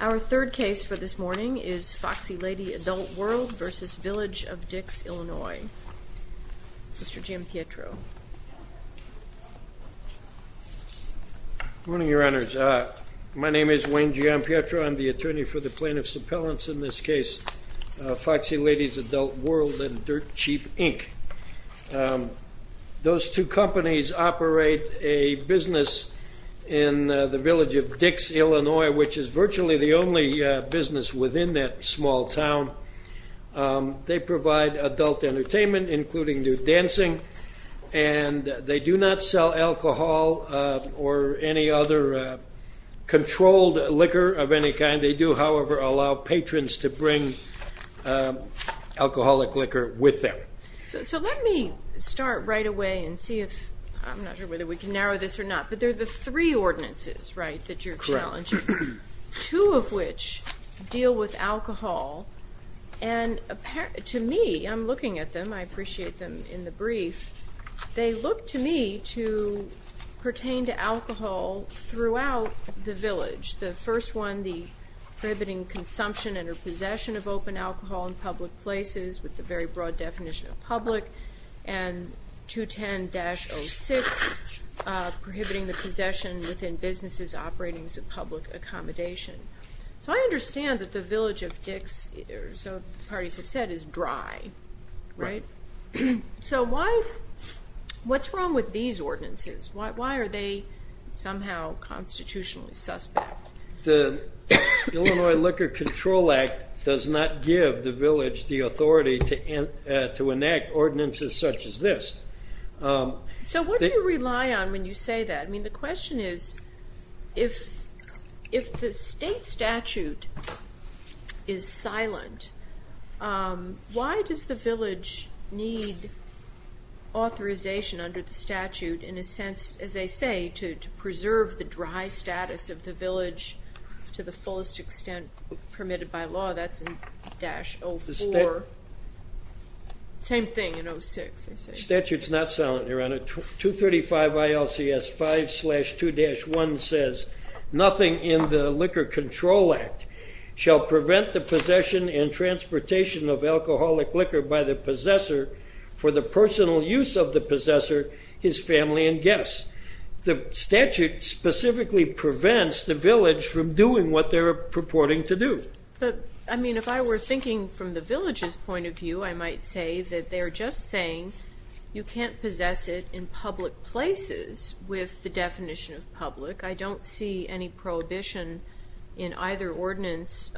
Our third case for this morning is Foxxy Ladyz Adult World v. Village of Dix, Illinois. Mr. Giampietro. Good morning, Your Honors. My name is Wayne Giampietro. I'm the attorney for the plaintiff's appellants in this case, Foxxy Ladyz Adult World and Dirt Cheap Inc. Those two companies operate a business in the village of Dix, Illinois, which is virtually the only business within that small town. They provide adult entertainment, including new dancing, and they do not sell alcohol or any other controlled liquor of any kind. They do, however, allow patrons to bring alcoholic liquor with them. So let me start right away and see if, I'm not sure whether we can narrow this or not, but they're the three ordinances, right, that you're challenging. Correct. Two of which deal with alcohol, and to me, I'm looking at them, I appreciate them in the brief, they look to me to pertain to alcohol throughout the village. The first one, the prohibiting consumption and or possession of open alcohol in public places with the very broad definition of public, and 210-06, prohibiting the possession within businesses operating as a public accommodation. So I understand that the village of Dix, or so the parties have said, is dry, right? Right. So why, what's wrong with these ordinances? Why are they somehow constitutionally suspect? The Illinois Liquor Control Act does not give the village the authority to enact ordinances such as this. So what do you rely on when you say that? I mean, the question is, if the state statute is silent, why does the village need authorization under the statute in a sense, as they say, to preserve the dry status of the village to the fullest extent permitted by law? That's in 0-04. Same thing in 0-06. The statute's not silent, Your Honor. 235 ILCS 5-2-1 says, nothing in the Liquor Control Act shall prevent the possession and transportation of alcoholic liquor by the possessor for the personal use of the possessor, his family, and guests. The statute specifically prevents the village from doing what they're purporting to do. But, I mean, if I were thinking from the village's point of view, I might say that they're just saying, you can't possess it in public places with the definition of public. I don't see any prohibition in either ordinance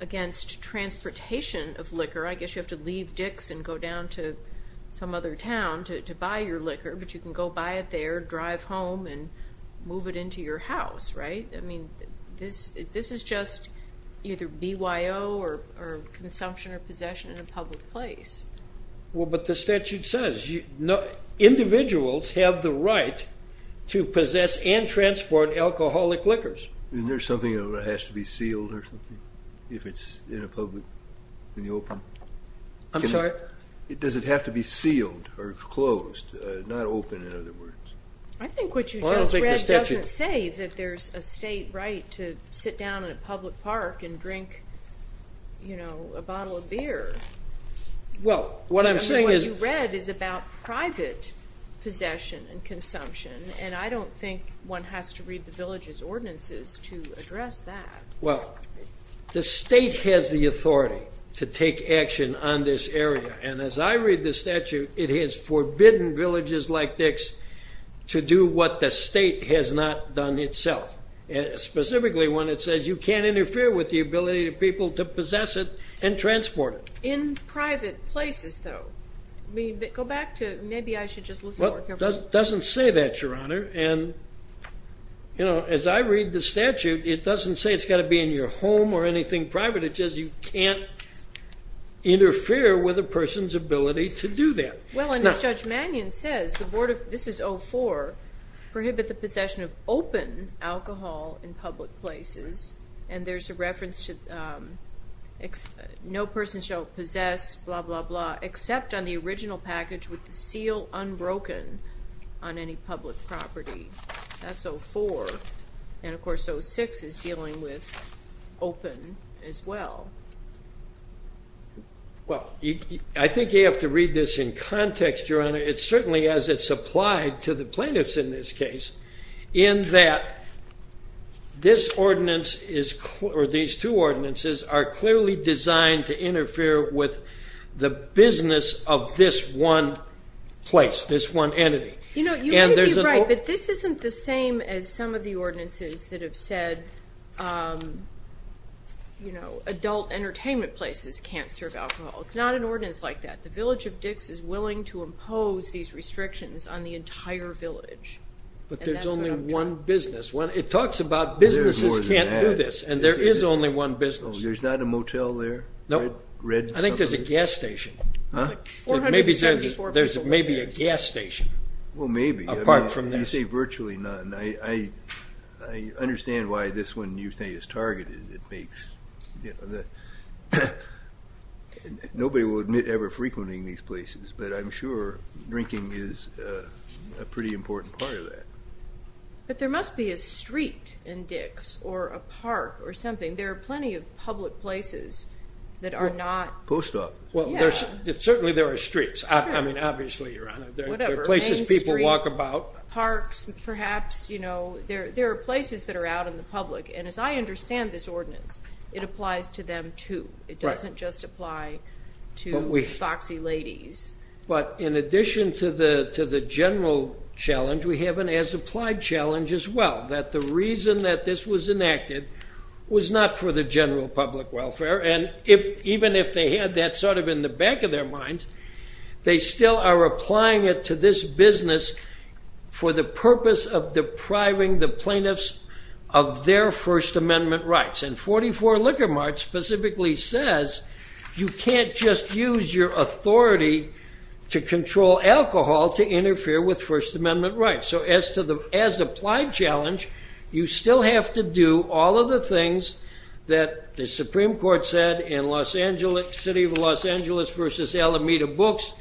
against transportation of liquor. I guess you have to leave Dix and go down to some other town to buy your liquor, but you can go buy it there, drive home, and move it into your house, right? I mean, this is just either BYO or consumption or possession in a public place. Well, but the statute says individuals have the right to possess and transport alcoholic liquors. Isn't there something that has to be sealed or something if it's in a public, in the open? I'm sorry? Does it have to be sealed or closed, not open in other words? I think what you just read doesn't say that there's a state right to sit down in a public park and drink, you know, a bottle of beer. Well, what I'm saying is— I mean, what you read is about private possession and consumption, and I don't think one has to read the village's ordinances to address that. Well, the state has the authority to take action on this area, and as I read the statute, it has forbidden villages like Dix to do what the state has not done itself, specifically when it says you can't interfere with the ability of people to possess it and transport it. In private places, though. I mean, go back to—maybe I should just listen more carefully. Well, it doesn't say that, Your Honor, and, you know, as I read the statute, it doesn't say it's got to be in your home or anything private. It just says you can't interfere with a person's ability to do that. Well, and as Judge Mannion says, the Board of—this is 04—prohibit the possession of open alcohol in public places, and there's a reference to no person shall possess, blah, blah, blah, except on the original package with the seal unbroken on any public property. That's 04. And, of course, 06 is dealing with open as well. Well, I think you have to read this in context, Your Honor. It certainly, as it's applied to the plaintiffs in this case, in that this ordinance is—or these two ordinances are clearly designed to interfere with the business of this one place, this one entity. You know, you may be right, but this isn't the same as some of the ordinances that have said, you know, adult entertainment places can't serve alcohol. It's not an ordinance like that. The Village of Dix is willing to impose these restrictions on the entire village. But there's only one business. It talks about businesses can't do this, and there is only one business. There's not a motel there? No. I think there's a gas station. Huh? There's maybe a gas station. Well, maybe. Apart from this. You say virtually none. I understand why this one you say is targeted. Nobody will admit ever frequenting these places, but I'm sure drinking is a pretty important part of that. But there must be a street in Dix or a park or something. There are plenty of public places that are not— Post office. Well, certainly there are streets. I mean, obviously, Your Honor. There are places people walk about. Main street, parks, perhaps. You know, there are places that are out in the public. And as I understand this ordinance, it applies to them, too. It doesn't just apply to foxy ladies. But in addition to the general challenge, we have an as-applied challenge as well, that the reason that this was enacted was not for the general public welfare. And even if they had that sort of in the back of their minds, they still are applying it to this business for the purpose of depriving the plaintiffs of their First Amendment rights. And 44 Liquor Mart specifically says you can't just use your authority to control alcohol to interfere with First Amendment rights. So as to the as-applied challenge, you still have to do all of the things that the Supreme Court said in the City of Los Angeles v. Alameda books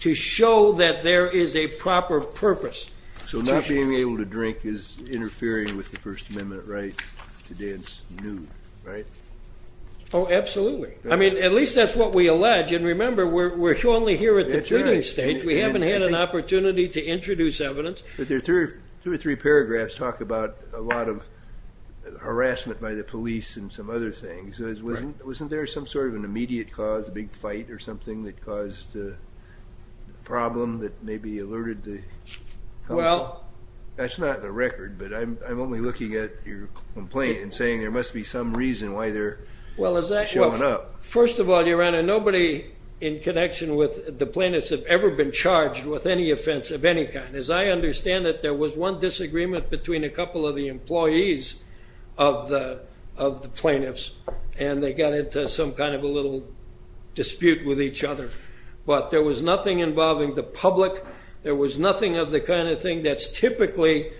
to show that there is a proper purpose. So not being able to drink is interfering with the First Amendment right to dance nude, right? Oh, absolutely. I mean, at least that's what we allege. And remember, we're only here at the pleading stage. We haven't had an opportunity to introduce evidence. Two or three paragraphs talk about a lot of harassment by the police and some other things. Wasn't there some sort of an immediate cause, a big fight or something that caused the problem that maybe alerted the council? That's not in the record, but I'm only looking at your complaint and saying there must be some reason why they're showing up. First of all, Your Honor, nobody in connection with the plaintiffs have ever been charged with any offense of any kind. As I understand it, there was one disagreement between a couple of the employees of the plaintiffs, and they got into some kind of a little dispute with each other. But there was nothing involving the public. There was nothing of the kind of thing that's typically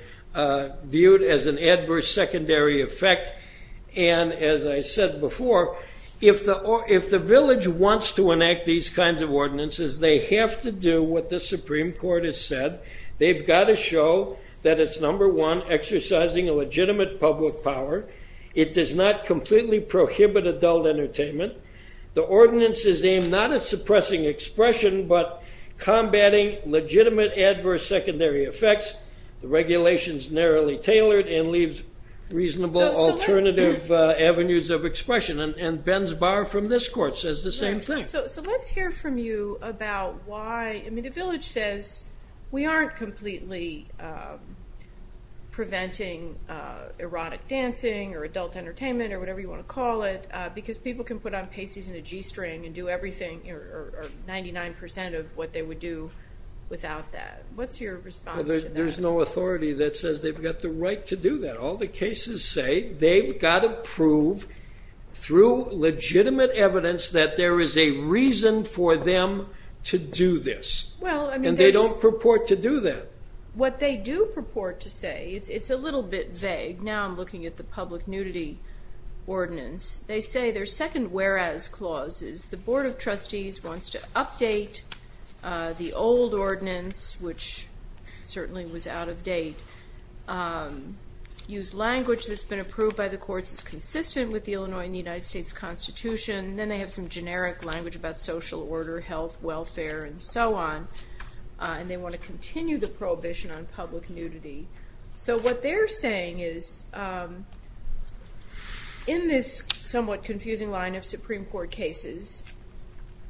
viewed as an adverse secondary effect. And as I said before, if the village wants to enact these kinds of ordinances, they have to do what the Supreme Court has said. They've got to show that it's, number one, exercising a legitimate public power. It does not completely prohibit adult entertainment. The ordinance is aimed not at suppressing expression but combating legitimate adverse secondary effects. The regulation is narrowly tailored and leaves reasonable alternative avenues of expression. And Ben's bar from this court says the same thing. So let's hear from you about why the village says we aren't completely preventing erotic dancing or adult entertainment or whatever you want to call it because people can put on pasties and a G-string and do everything or 99 percent of what they would do without that. What's your response to that? There's no authority that says they've got the right to do that. All the cases say they've got to prove through legitimate evidence that there is a reason for them to do this. And they don't purport to do that. What they do purport to say, it's a little bit vague. Now I'm looking at the public nudity ordinance. They say their second whereas clause is the Board of Trustees wants to update the old ordinance, which certainly was out of date, use language that's been approved by the courts that's consistent with the Illinois and the United States Constitution. Then they have some generic language about social order, health, welfare, and so on. And they want to continue the prohibition on public nudity. So what they're saying is in this somewhat confusing line of Supreme Court cases,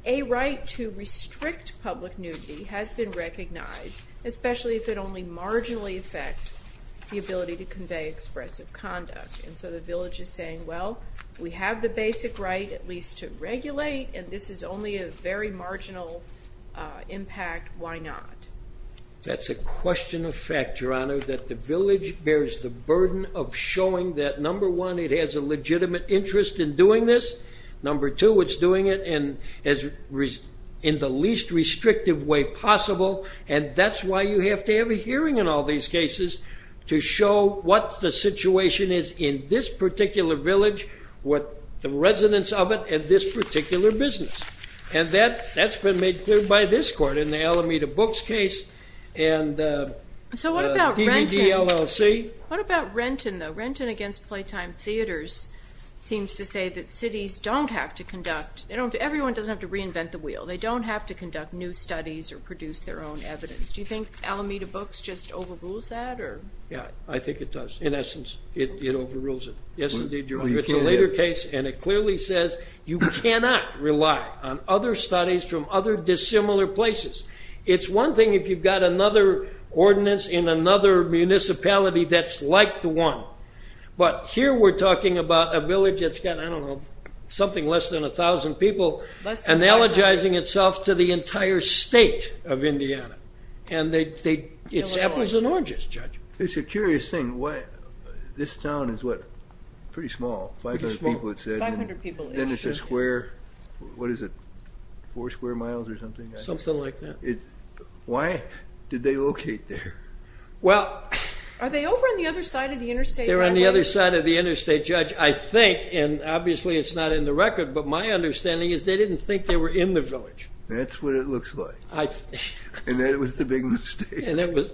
a right to restrict public nudity has been recognized, especially if it only marginally affects the ability to convey expressive conduct. And so the village is saying, well, we have the basic right at least to regulate, and this is only a very marginal impact. Why not? That's a question of fact, Your Honor, that the village bears the burden of showing that, number one, it has a legitimate interest in doing this. Number two, it's doing it in the least restrictive way possible. And that's why you have to have a hearing in all these cases to show what the situation is in this particular village, what the residence of it, and this particular business. And that's been made clear by this court in the Alameda Books case and DVD LLC. So what about Renton? What about Renton, though? Renton against Playtime Theaters seems to say that cities don't have to conduct ñ everyone doesn't have to reinvent the wheel. They don't have to conduct new studies or produce their own evidence. Do you think Alameda Books just overrules that? Yeah, I think it does. In essence, it overrules it. Yes, indeed, Your Honor. It's a later case, and it clearly says you cannot rely on other studies from other dissimilar places. It's one thing if you've got another ordinance in another municipality that's like the one. But here we're talking about a village that's got, I don't know, something less than 1,000 people and alleging itself to the entire state of Indiana. And it's apples and oranges, Judge. It's a curious thing. This town is, what, pretty small. 500 people, it said. Then it's a square. What is it, four square miles or something? Something like that. Why did they locate there? Are they over on the other side of the interstate? They're on the other side of the interstate, Judge. I think, and obviously it's not in the record, but my understanding is they didn't think they were in the village. That's what it looks like. And that was the big mistake.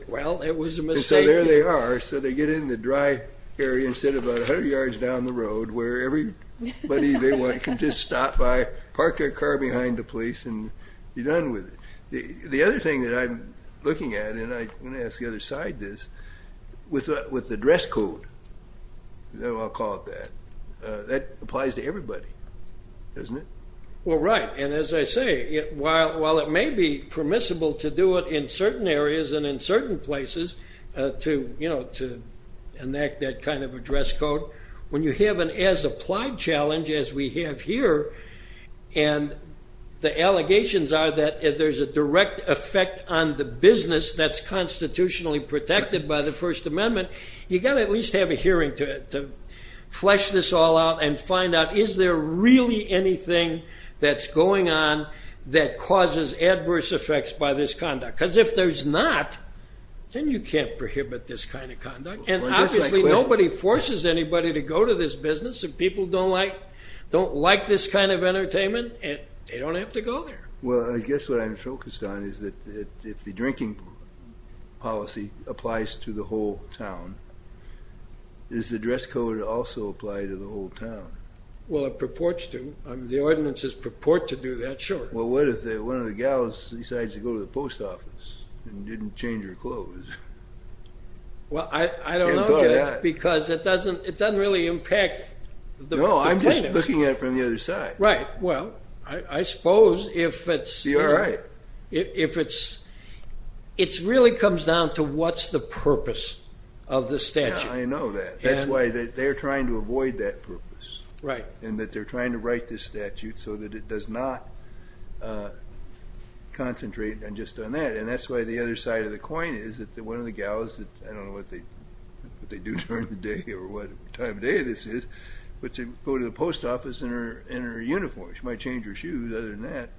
Well, it was a mistake. And so there they are. So they get in the dry area and sit about 100 yards down the road where everybody they want can just stop by, park their car behind the police, and be done with it. The other thing that I'm looking at, and I'm going to ask the other side this, with the dress code, I'll call it that, that applies to everybody, doesn't it? Well, right. And as I say, while it may be permissible to do it in certain areas and in certain places to enact that kind of a dress code, when you have an as-applied challenge as we have here, and the allegations are that there's a direct effect on the business that's constitutionally protected by the First Amendment, you've got to at least have a hearing to flesh this all out and find out, is there really anything that's going on that causes adverse effects by this conduct? Because if there's not, then you can't prohibit this kind of conduct. And obviously nobody forces anybody to go to this business. If people don't like this kind of entertainment, they don't have to go there. Well, I guess what I'm focused on is that if the drinking policy applies to the whole town, does the dress code also apply to the whole town? Well, it purports to. The ordinances purport to do that, sure. Well, what if one of the gals decides to go to the post office and didn't change her clothes? Well, I don't know, because it doesn't really impact the plaintiffs. No, I'm just looking at it from the other side. Right. Well, I suppose if it's really comes down to what's the purpose of the statute. I know that. That's why they're trying to avoid that purpose. Right. And that they're trying to write this statute so that it does not concentrate just on that. And that's why the other side of the coin is that one of the gals, I don't know what they do during the day or what time of day this is, but to go to the post office in her uniform. She might change her shoes, other than that.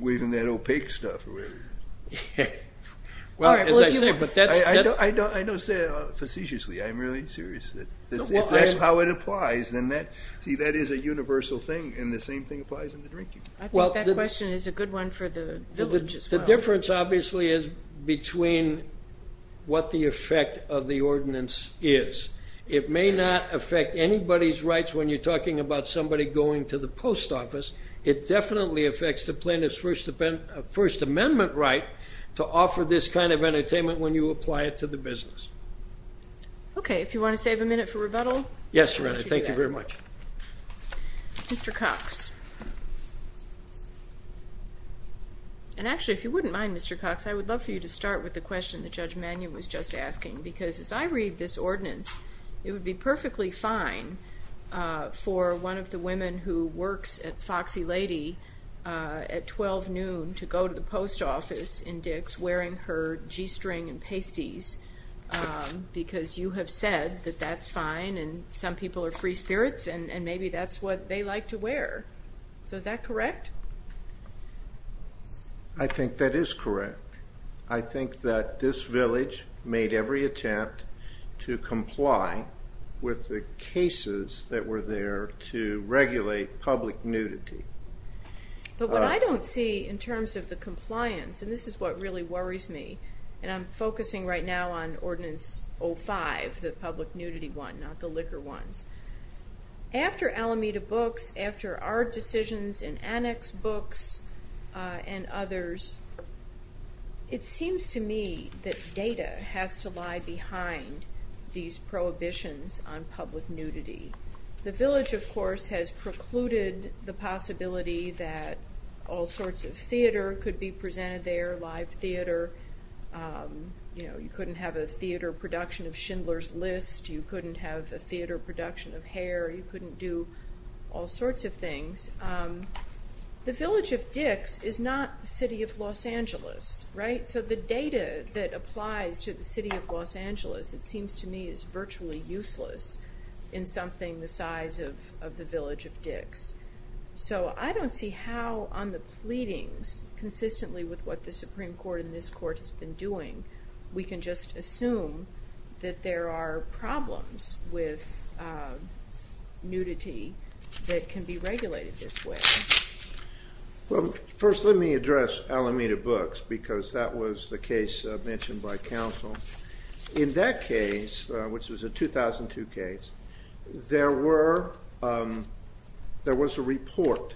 Or even that opaque stuff or whatever it is. Well, as I say, but that's. I don't say it facetiously. I'm really serious. If that's how it applies, then that is a universal thing, and the same thing applies in the drinking. I think that question is a good one for the village as well. The difference, obviously, is between what the effect of the ordinance is. It may not affect anybody's rights when you're talking about somebody going to the post office. It definitely affects the plaintiff's First Amendment right to offer this kind of entertainment when you apply it to the business. Okay. If you want to save a minute for rebuttal. Yes, Your Honor. Thank you very much. Mr. Cox. And actually, if you wouldn't mind, Mr. Cox, I would love for you to start with the question that Judge Mannion was just asking, because as I read this ordinance, it would be perfectly fine for one of the women who works at Foxy Lady at 12 noon to go to the post office in Dick's wearing her G-string and pasties, because you have said that that's fine, and some people are free spirits, and maybe that's what they like to wear. So is that correct? I think that is correct. I think that this village made every attempt to comply with the cases that were there to regulate public nudity. But what I don't see in terms of the compliance, and this is what really worries me, and I'm focusing right now on Ordinance 05, the public nudity one, not the liquor ones. After Alameda Books, after our decisions in Annex Books and others, it seems to me that data has to lie behind these prohibitions on public nudity. The village, of course, has precluded the possibility that all sorts of theater could be presented there, live theater. You couldn't have a theater production of Schindler's List. You couldn't have a theater production of Hair. You couldn't do all sorts of things. The village of Dick's is not the city of Los Angeles, right? So the data that applies to the city of Los Angeles, it seems to me, is virtually useless in something the size of the village of Dick's. So I don't see how on the pleadings, consistently with what the Supreme Court and this Court has been doing, we can just assume that there are problems with nudity that can be regulated this way. Well, first let me address Alameda Books because that was the case mentioned by counsel. In that case, which was a 2002 case, there was a report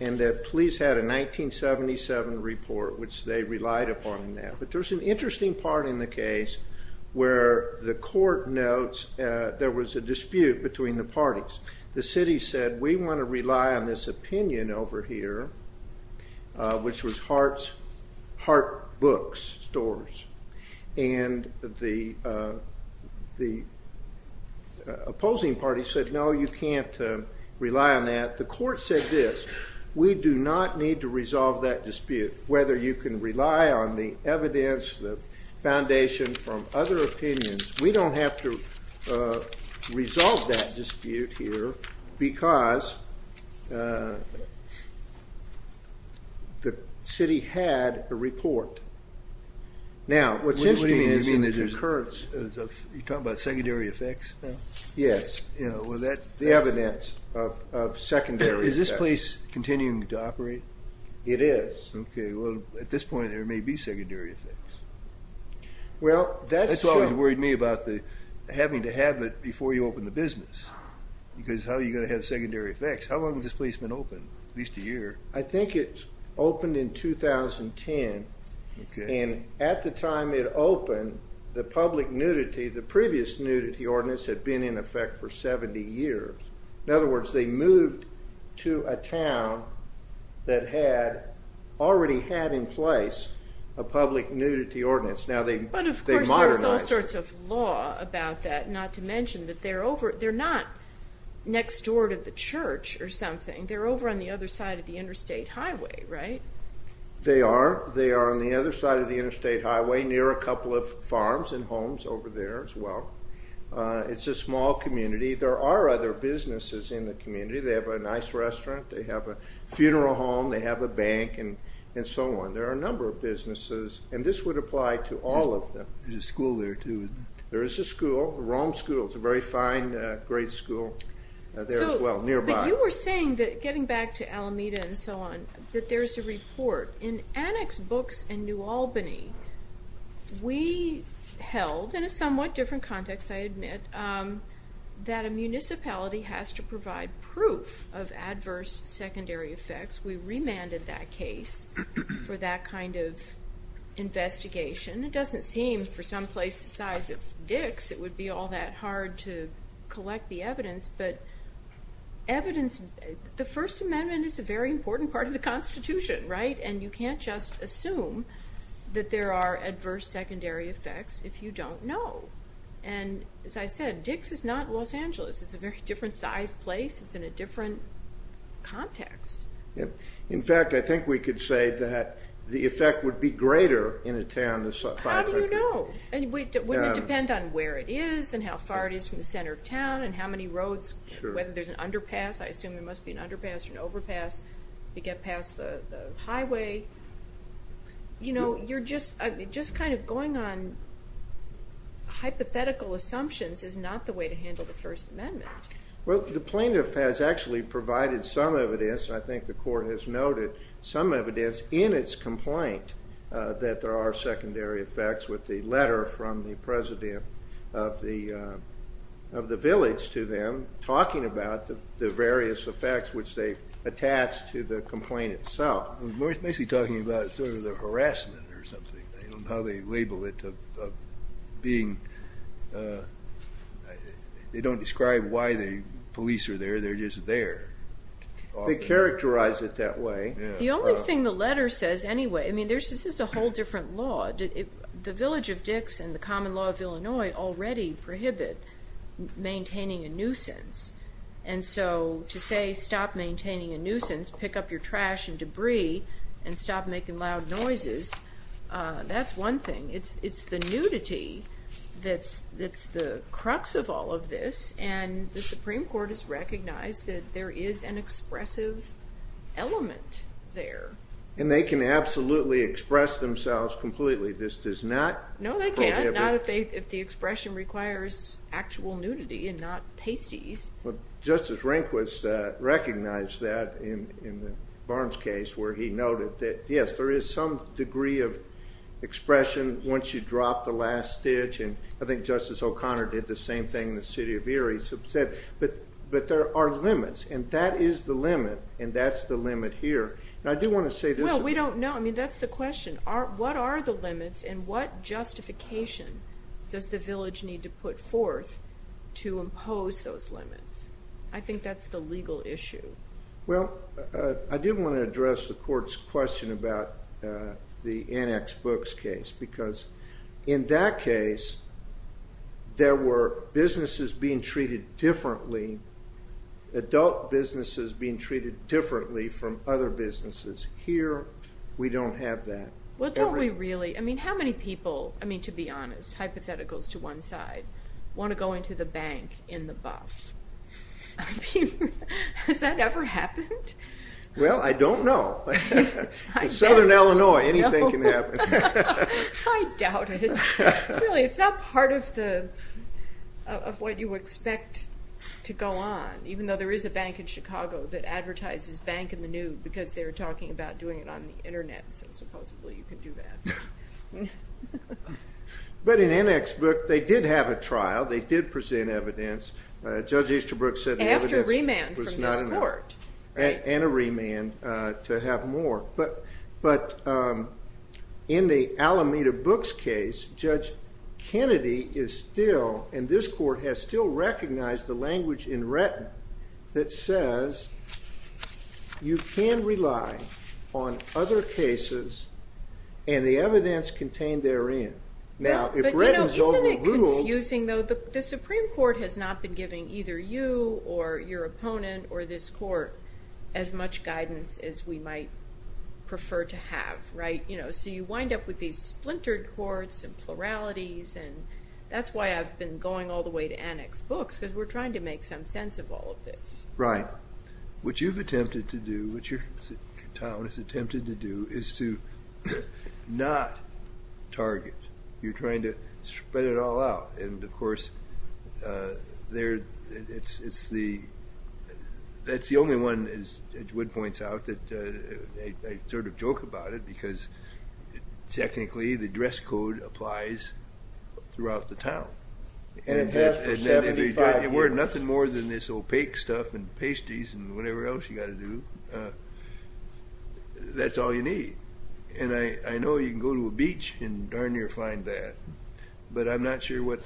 and the police had a 1977 report which they relied upon. But there's an interesting part in the case where the court notes there was a dispute between the parties. The city said, we want to rely on this opinion over here, which was Hart Books Stores. And the opposing party said, no, you can't rely on that. The court said this, we do not need to resolve that dispute whether you can rely on the evidence, the foundation from other opinions. We don't have to resolve that dispute here because the city had a report. Now, what seems to me is a concurrence. You're talking about secondary effects? Yes, the evidence of secondary effects. Is this place continuing to operate? It is. Okay. Well, at this point, there may be secondary effects. That's what always worried me about having to have it before you open the business because how are you going to have secondary effects? How long has this place been open? At least a year. I think it opened in 2010. And at the time it opened, the public nudity, the previous nudity ordinance had been in effect for 70 years. In other words, they moved to a town that had already had in place a public nudity ordinance. But, of course, there's all sorts of law about that, not to mention that they're not next door to the church or something. They're over on the other side of the interstate highway, right? They are. They are on the other side of the interstate highway near a couple of farms and homes over there as well. It's a small community. There are other businesses in the community. They have a nice restaurant. They have a funeral home. They have a bank and so on. There are a number of businesses, and this would apply to all of them. There's a school there too. There is a school, Rome School. It's a very fine grade school there as well, nearby. But you were saying that, getting back to Alameda and so on, that there's a report. In Annex Books in New Albany, we held, in a somewhat different context, I admit, that a municipality has to provide proof of adverse secondary effects. We remanded that case for that kind of investigation. It doesn't seem, for some place the size of Dick's, it would be all that hard to collect the evidence. But the First Amendment is a very important part of the Constitution, right? And you can't just assume that there are adverse secondary effects if you don't know. As I said, Dick's is not Los Angeles. It's a very different sized place. It's in a different context. In fact, I think we could say that the effect would be greater in a town this size. How do you know? Wouldn't it depend on where it is and how far it is from the center of town and how many roads, whether there's an underpass. I assume there must be an underpass or an overpass to get past the highway. You know, you're just kind of going on hypothetical assumptions is not the way to handle the First Amendment. Well, the plaintiff has actually provided some evidence, and I think the court has noted some evidence in its complaint that there are secondary effects with the letter from the president of the village to them talking about the various effects which they've attached to the complaint itself. They're basically talking about sort of the harassment or something. I don't know how they label it. They don't describe why the police are there. They're just there. They characterize it that way. The only thing the letter says anyway, I mean, this is a whole different law. The village of Dick's and the common law of Illinois already prohibit maintaining a nuisance, and so to say, stop maintaining a nuisance, pick up your trash and debris, and stop making loud noises, that's one thing. It's the nudity that's the crux of all of this, and the Supreme Court has recognized that there is an expressive element there. And they can absolutely express themselves completely. This does not prohibit. No, they can't, not if the expression requires actual nudity and not pasties. Justice Rehnquist recognized that in the Barnes case, where he noted that, yes, there is some degree of expression once you drop the last stitch, and I think Justice O'Connor did the same thing in the city of Erie. He said, but there are limits, and that is the limit, and that's the limit here. I do want to say this. Well, we don't know. I mean, that's the question. What are the limits, and what justification does the village need to put forth to impose those limits? I think that's the legal issue. Well, I did want to address the court's question about the Annex Books case, because in that case, there were businesses being treated differently, adult businesses being treated differently from other businesses. Here, we don't have that. Well, don't we really? I mean, how many people, I mean, to be honest, hypotheticals to one side, want to go into the bank in the buff? I mean, has that ever happened? Well, I don't know. In Southern Illinois, anything can happen. I doubt it. Really, it's not part of what you expect to go on, even though there is a bank in Chicago that advertises Bank in the New because they were talking about doing it on the Internet, so supposedly you could do that. But in Annex Book, they did have a trial. They did present evidence. Judge Easterbrook said the evidence was not enough. And a remand from this court. And a remand to have more. But in the Alameda Books case, Judge Kennedy is still, and this court has still recognized the language in Wretten that says, you can rely on other cases and the evidence contained therein. Now, if Wretten's overruled. Isn't it confusing, though? The Supreme Court has not been giving either you or your opponent or this court as much guidance as we might prefer to have, right? So you wind up with these splintered courts and pluralities, and that's why I've been going all the way to Annex Books, because we're trying to make some sense of all of this. Right. What you've attempted to do, what your town has attempted to do, is to not target. You're trying to spread it all out. And, of course, that's the only one, as Wood points out, that I sort of joke about it, because technically the dress code applies throughout the town. And it has for 75 years. If you wear nothing more than this opaque stuff and pasties and whatever else you've got to do, that's all you need. And I know you can go to a beach and darn near find that, but I'm not sure how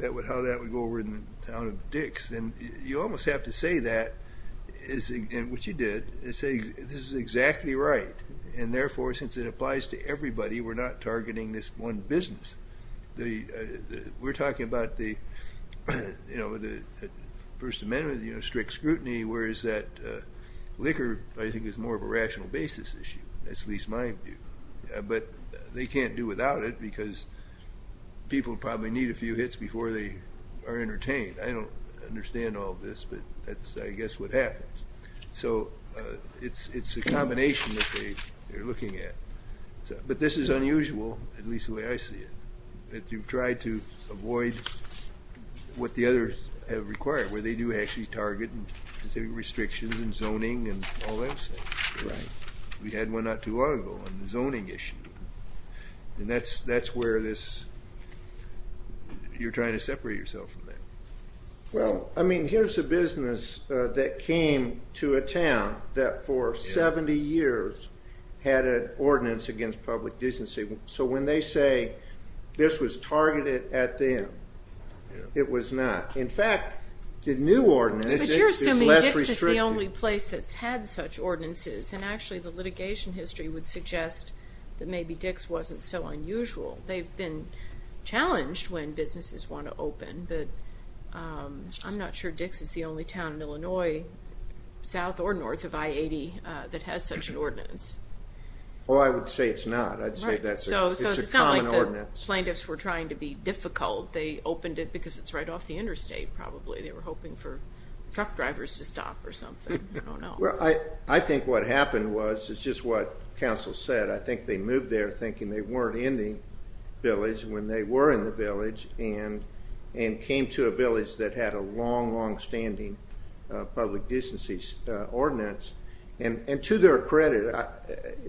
that would go over in the town of Dix. And you almost have to say that, which you did, and say this is exactly right. And, therefore, since it applies to everybody, we're not targeting this one business. We're talking about the First Amendment, strict scrutiny, whereas that liquor, I think, is more of a rational basis issue. That's at least my view. But they can't do without it, because people probably need a few hits before they are entertained. I don't understand all this, but that's, I guess, what happens. So it's a combination that they're looking at. But this is unusual, at least the way I see it, that you've tried to avoid what the others have required, where they do actually target specific restrictions and zoning and all that stuff. We had one not too long ago on the zoning issue. And that's where this, you're trying to separate yourself from that. Well, I mean, here's a business that came to a town that for 70 years had an ordinance against public decency. So when they say this was targeted at them, it was not. In fact, the new ordinance is less restrictive. But you're assuming Dix is the only place that's had such ordinances, and actually the litigation history would suggest that maybe Dix wasn't so unusual. They've been challenged when businesses want to open, but I'm not sure Dix is the only town in Illinois, south or north of I-80, that has such an ordinance. Oh, I would say it's not. I'd say it's a common ordinance. So it's not like the plaintiffs were trying to be difficult. They opened it because it's right off the interstate, probably. They were hoping for truck drivers to stop or something. I don't know. Well, I think what happened was, it's just what counsel said. I think they moved there thinking they weren't in the village, when they were in the village, and came to a village that had a long, long-standing public decency ordinance. And to their credit,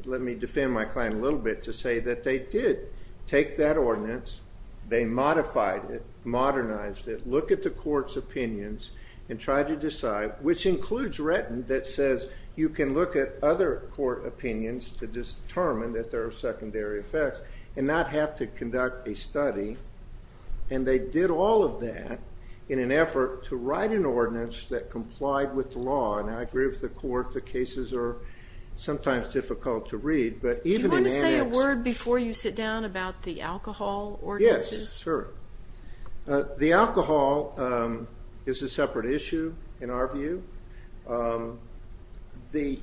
let me defend my client a little bit to say that they did take that ordinance, they modified it, modernized it, looked at the court's opinions, and tried to decide, which includes Retton, that says you can look at other court opinions to determine that there are secondary effects, and not have to conduct a study. And they did all of that in an effort to write an ordinance that complied with the law. And I agree with the court that cases are sometimes difficult to read. Do you want to say a word before you sit down about the alcohol ordinances? Yes, sure. The alcohol is a separate issue, in our view.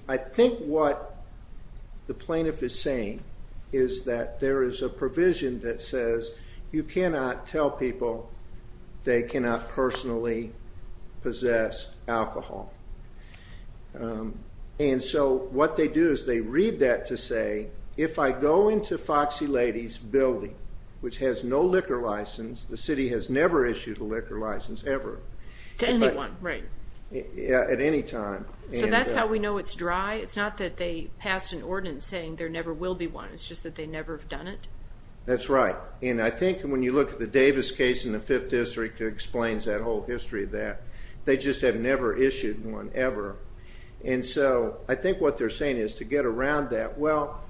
I think what the plaintiff is saying is that there is a provision that says you cannot tell people they cannot personally possess alcohol. And so what they do is they read that to say, if I go into Foxy Lady's building, which has no liquor license, the city has never issued a liquor license, ever. To anyone, right? At any time. So that's how we know it's dry? It's not that they passed an ordinance saying there never will be one. It's just that they never have done it? That's right. And I think when you look at the Davis case in the Fifth District, it explains that whole history of that. They just have never issued one, ever. And so I think what they're saying is to get around that. Well,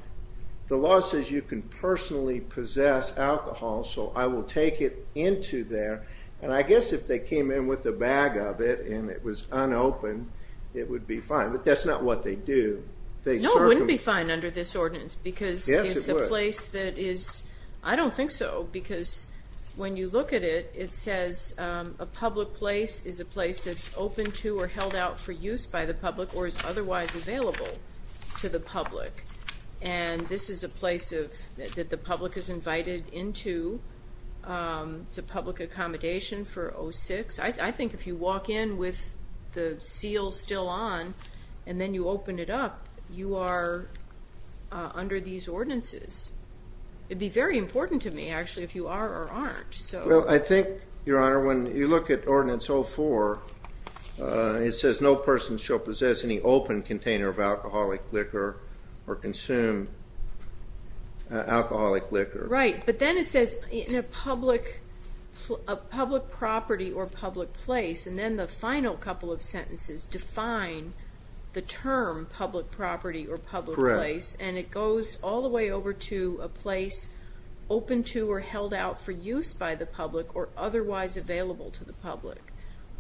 the law says you can personally possess alcohol, so I will take it into there. And I guess if they came in with a bag of it and it was unopened, it would be fine. But that's not what they do. No, it wouldn't be fine under this ordinance, because it's a place that is, I don't think so, because when you look at it, it says a public place is a place that's open to or held out for use by the public or is otherwise available to the public. And this is a place that the public is invited into to public accommodation for 06. I think if you walk in with the seal still on and then you open it up, you are under these ordinances. It would be very important to me, actually, if you are or aren't. Well, I think, Your Honor, when you look at Ordinance 04, it says no person shall possess any open container of alcoholic liquor or consume alcoholic liquor. Right, but then it says a public property or public place, and then the final couple of sentences define the term public property or public place. Correct. And it goes all the way over to a place open to or held out for use by the public or otherwise available to the public.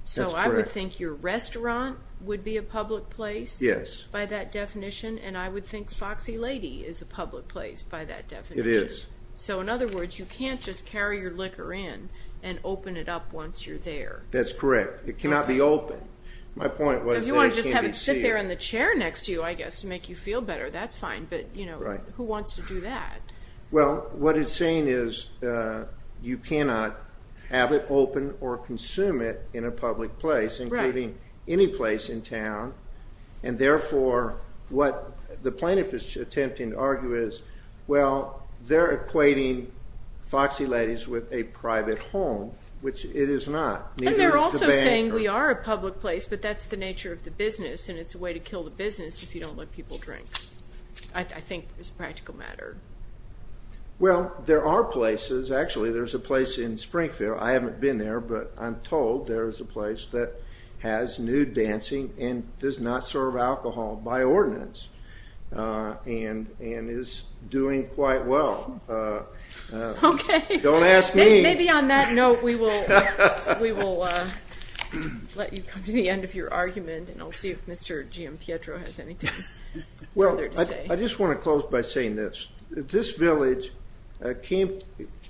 That's correct. So I would think your restaurant would be a public place. Yes. By that definition. And I would think Foxy Lady is a public place by that definition. It is. So, in other words, you can't just carry your liquor in and open it up once you're there. That's correct. It cannot be open. My point was that it can be seen. So if you want to just have it sit there in the chair next to you, I guess, to make you feel better, that's fine. But, you know, who wants to do that? Well, what it's saying is you cannot have it open or consume it in a public place, including any place in town. And, therefore, what the plaintiff is attempting to argue is, well, they're equating Foxy Lady's with a private home, which it is not. And they're also saying we are a public place, but that's the nature of the business and it's a way to kill the business if you don't let people drink. I think it's a practical matter. Well, there are places. Actually, there's a place in Springfield. I haven't been there, but I'm told there is a place that has nude dancing and does not serve alcohol by ordinance and is doing quite well. Okay. Don't ask me. Maybe on that note we will let you come to the end of your argument and I'll see if Mr. G.M. Pietro has anything further to say. Well, I just want to close by saying this. This village came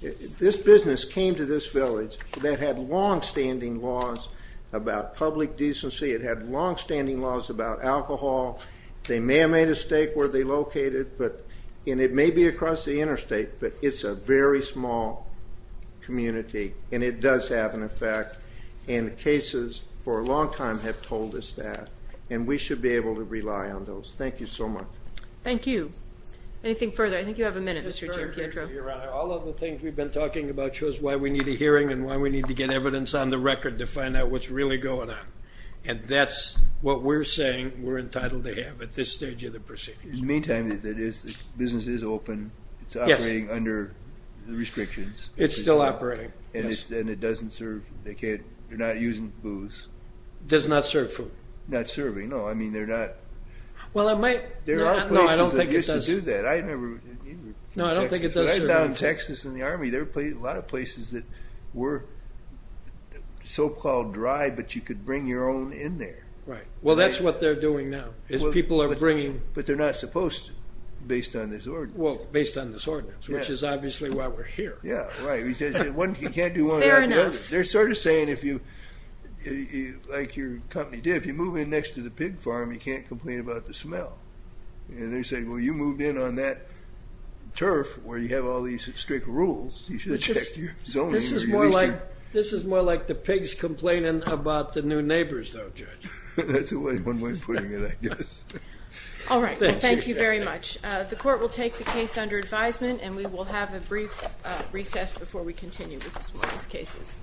to this village that had longstanding laws about public decency. It had longstanding laws about alcohol. They may have made a stake where they located, and it may be across the interstate, but it's a very small community, and it does have an effect. And the cases for a long time have told us that, and we should be able to rely on those. Thank you so much. Thank you. Anything further? I think you have a minute, Mr. G.M. Pietro. All of the things we've been talking about shows why we need a hearing and why we need to get evidence on the record to find out what's really going on. And that's what we're saying we're entitled to have at this stage of the proceedings. In the meantime, the business is open. It's operating under the restrictions. It's still operating, yes. And it doesn't serve, they're not using booze. Does not serve food. Not serving. No, I mean they're not. Well, it might. There are places that used to do that. I remember in Texas. No, I don't think it does serve food. A lot of places that were so-called dry, but you could bring your own in there. Right. Well, that's what they're doing now, is people are bringing. But they're not supposed to, based on this ordinance. Well, based on this ordinance, which is obviously why we're here. Yeah, right. You can't do one without the other. Fair enough. They're sort of saying, like your company did, if you move in next to the pig farm, you can't complain about the smell. And they're saying, well, you moved in on that turf where you have all these strict rules. You should check your zoning. This is more like the pigs complaining about the new neighbors, though, Judge. That's one way of putting it, I guess. All right. Well, thank you very much. The court will take the case under advisement, and we will have a brief recess before we continue with this morning's cases.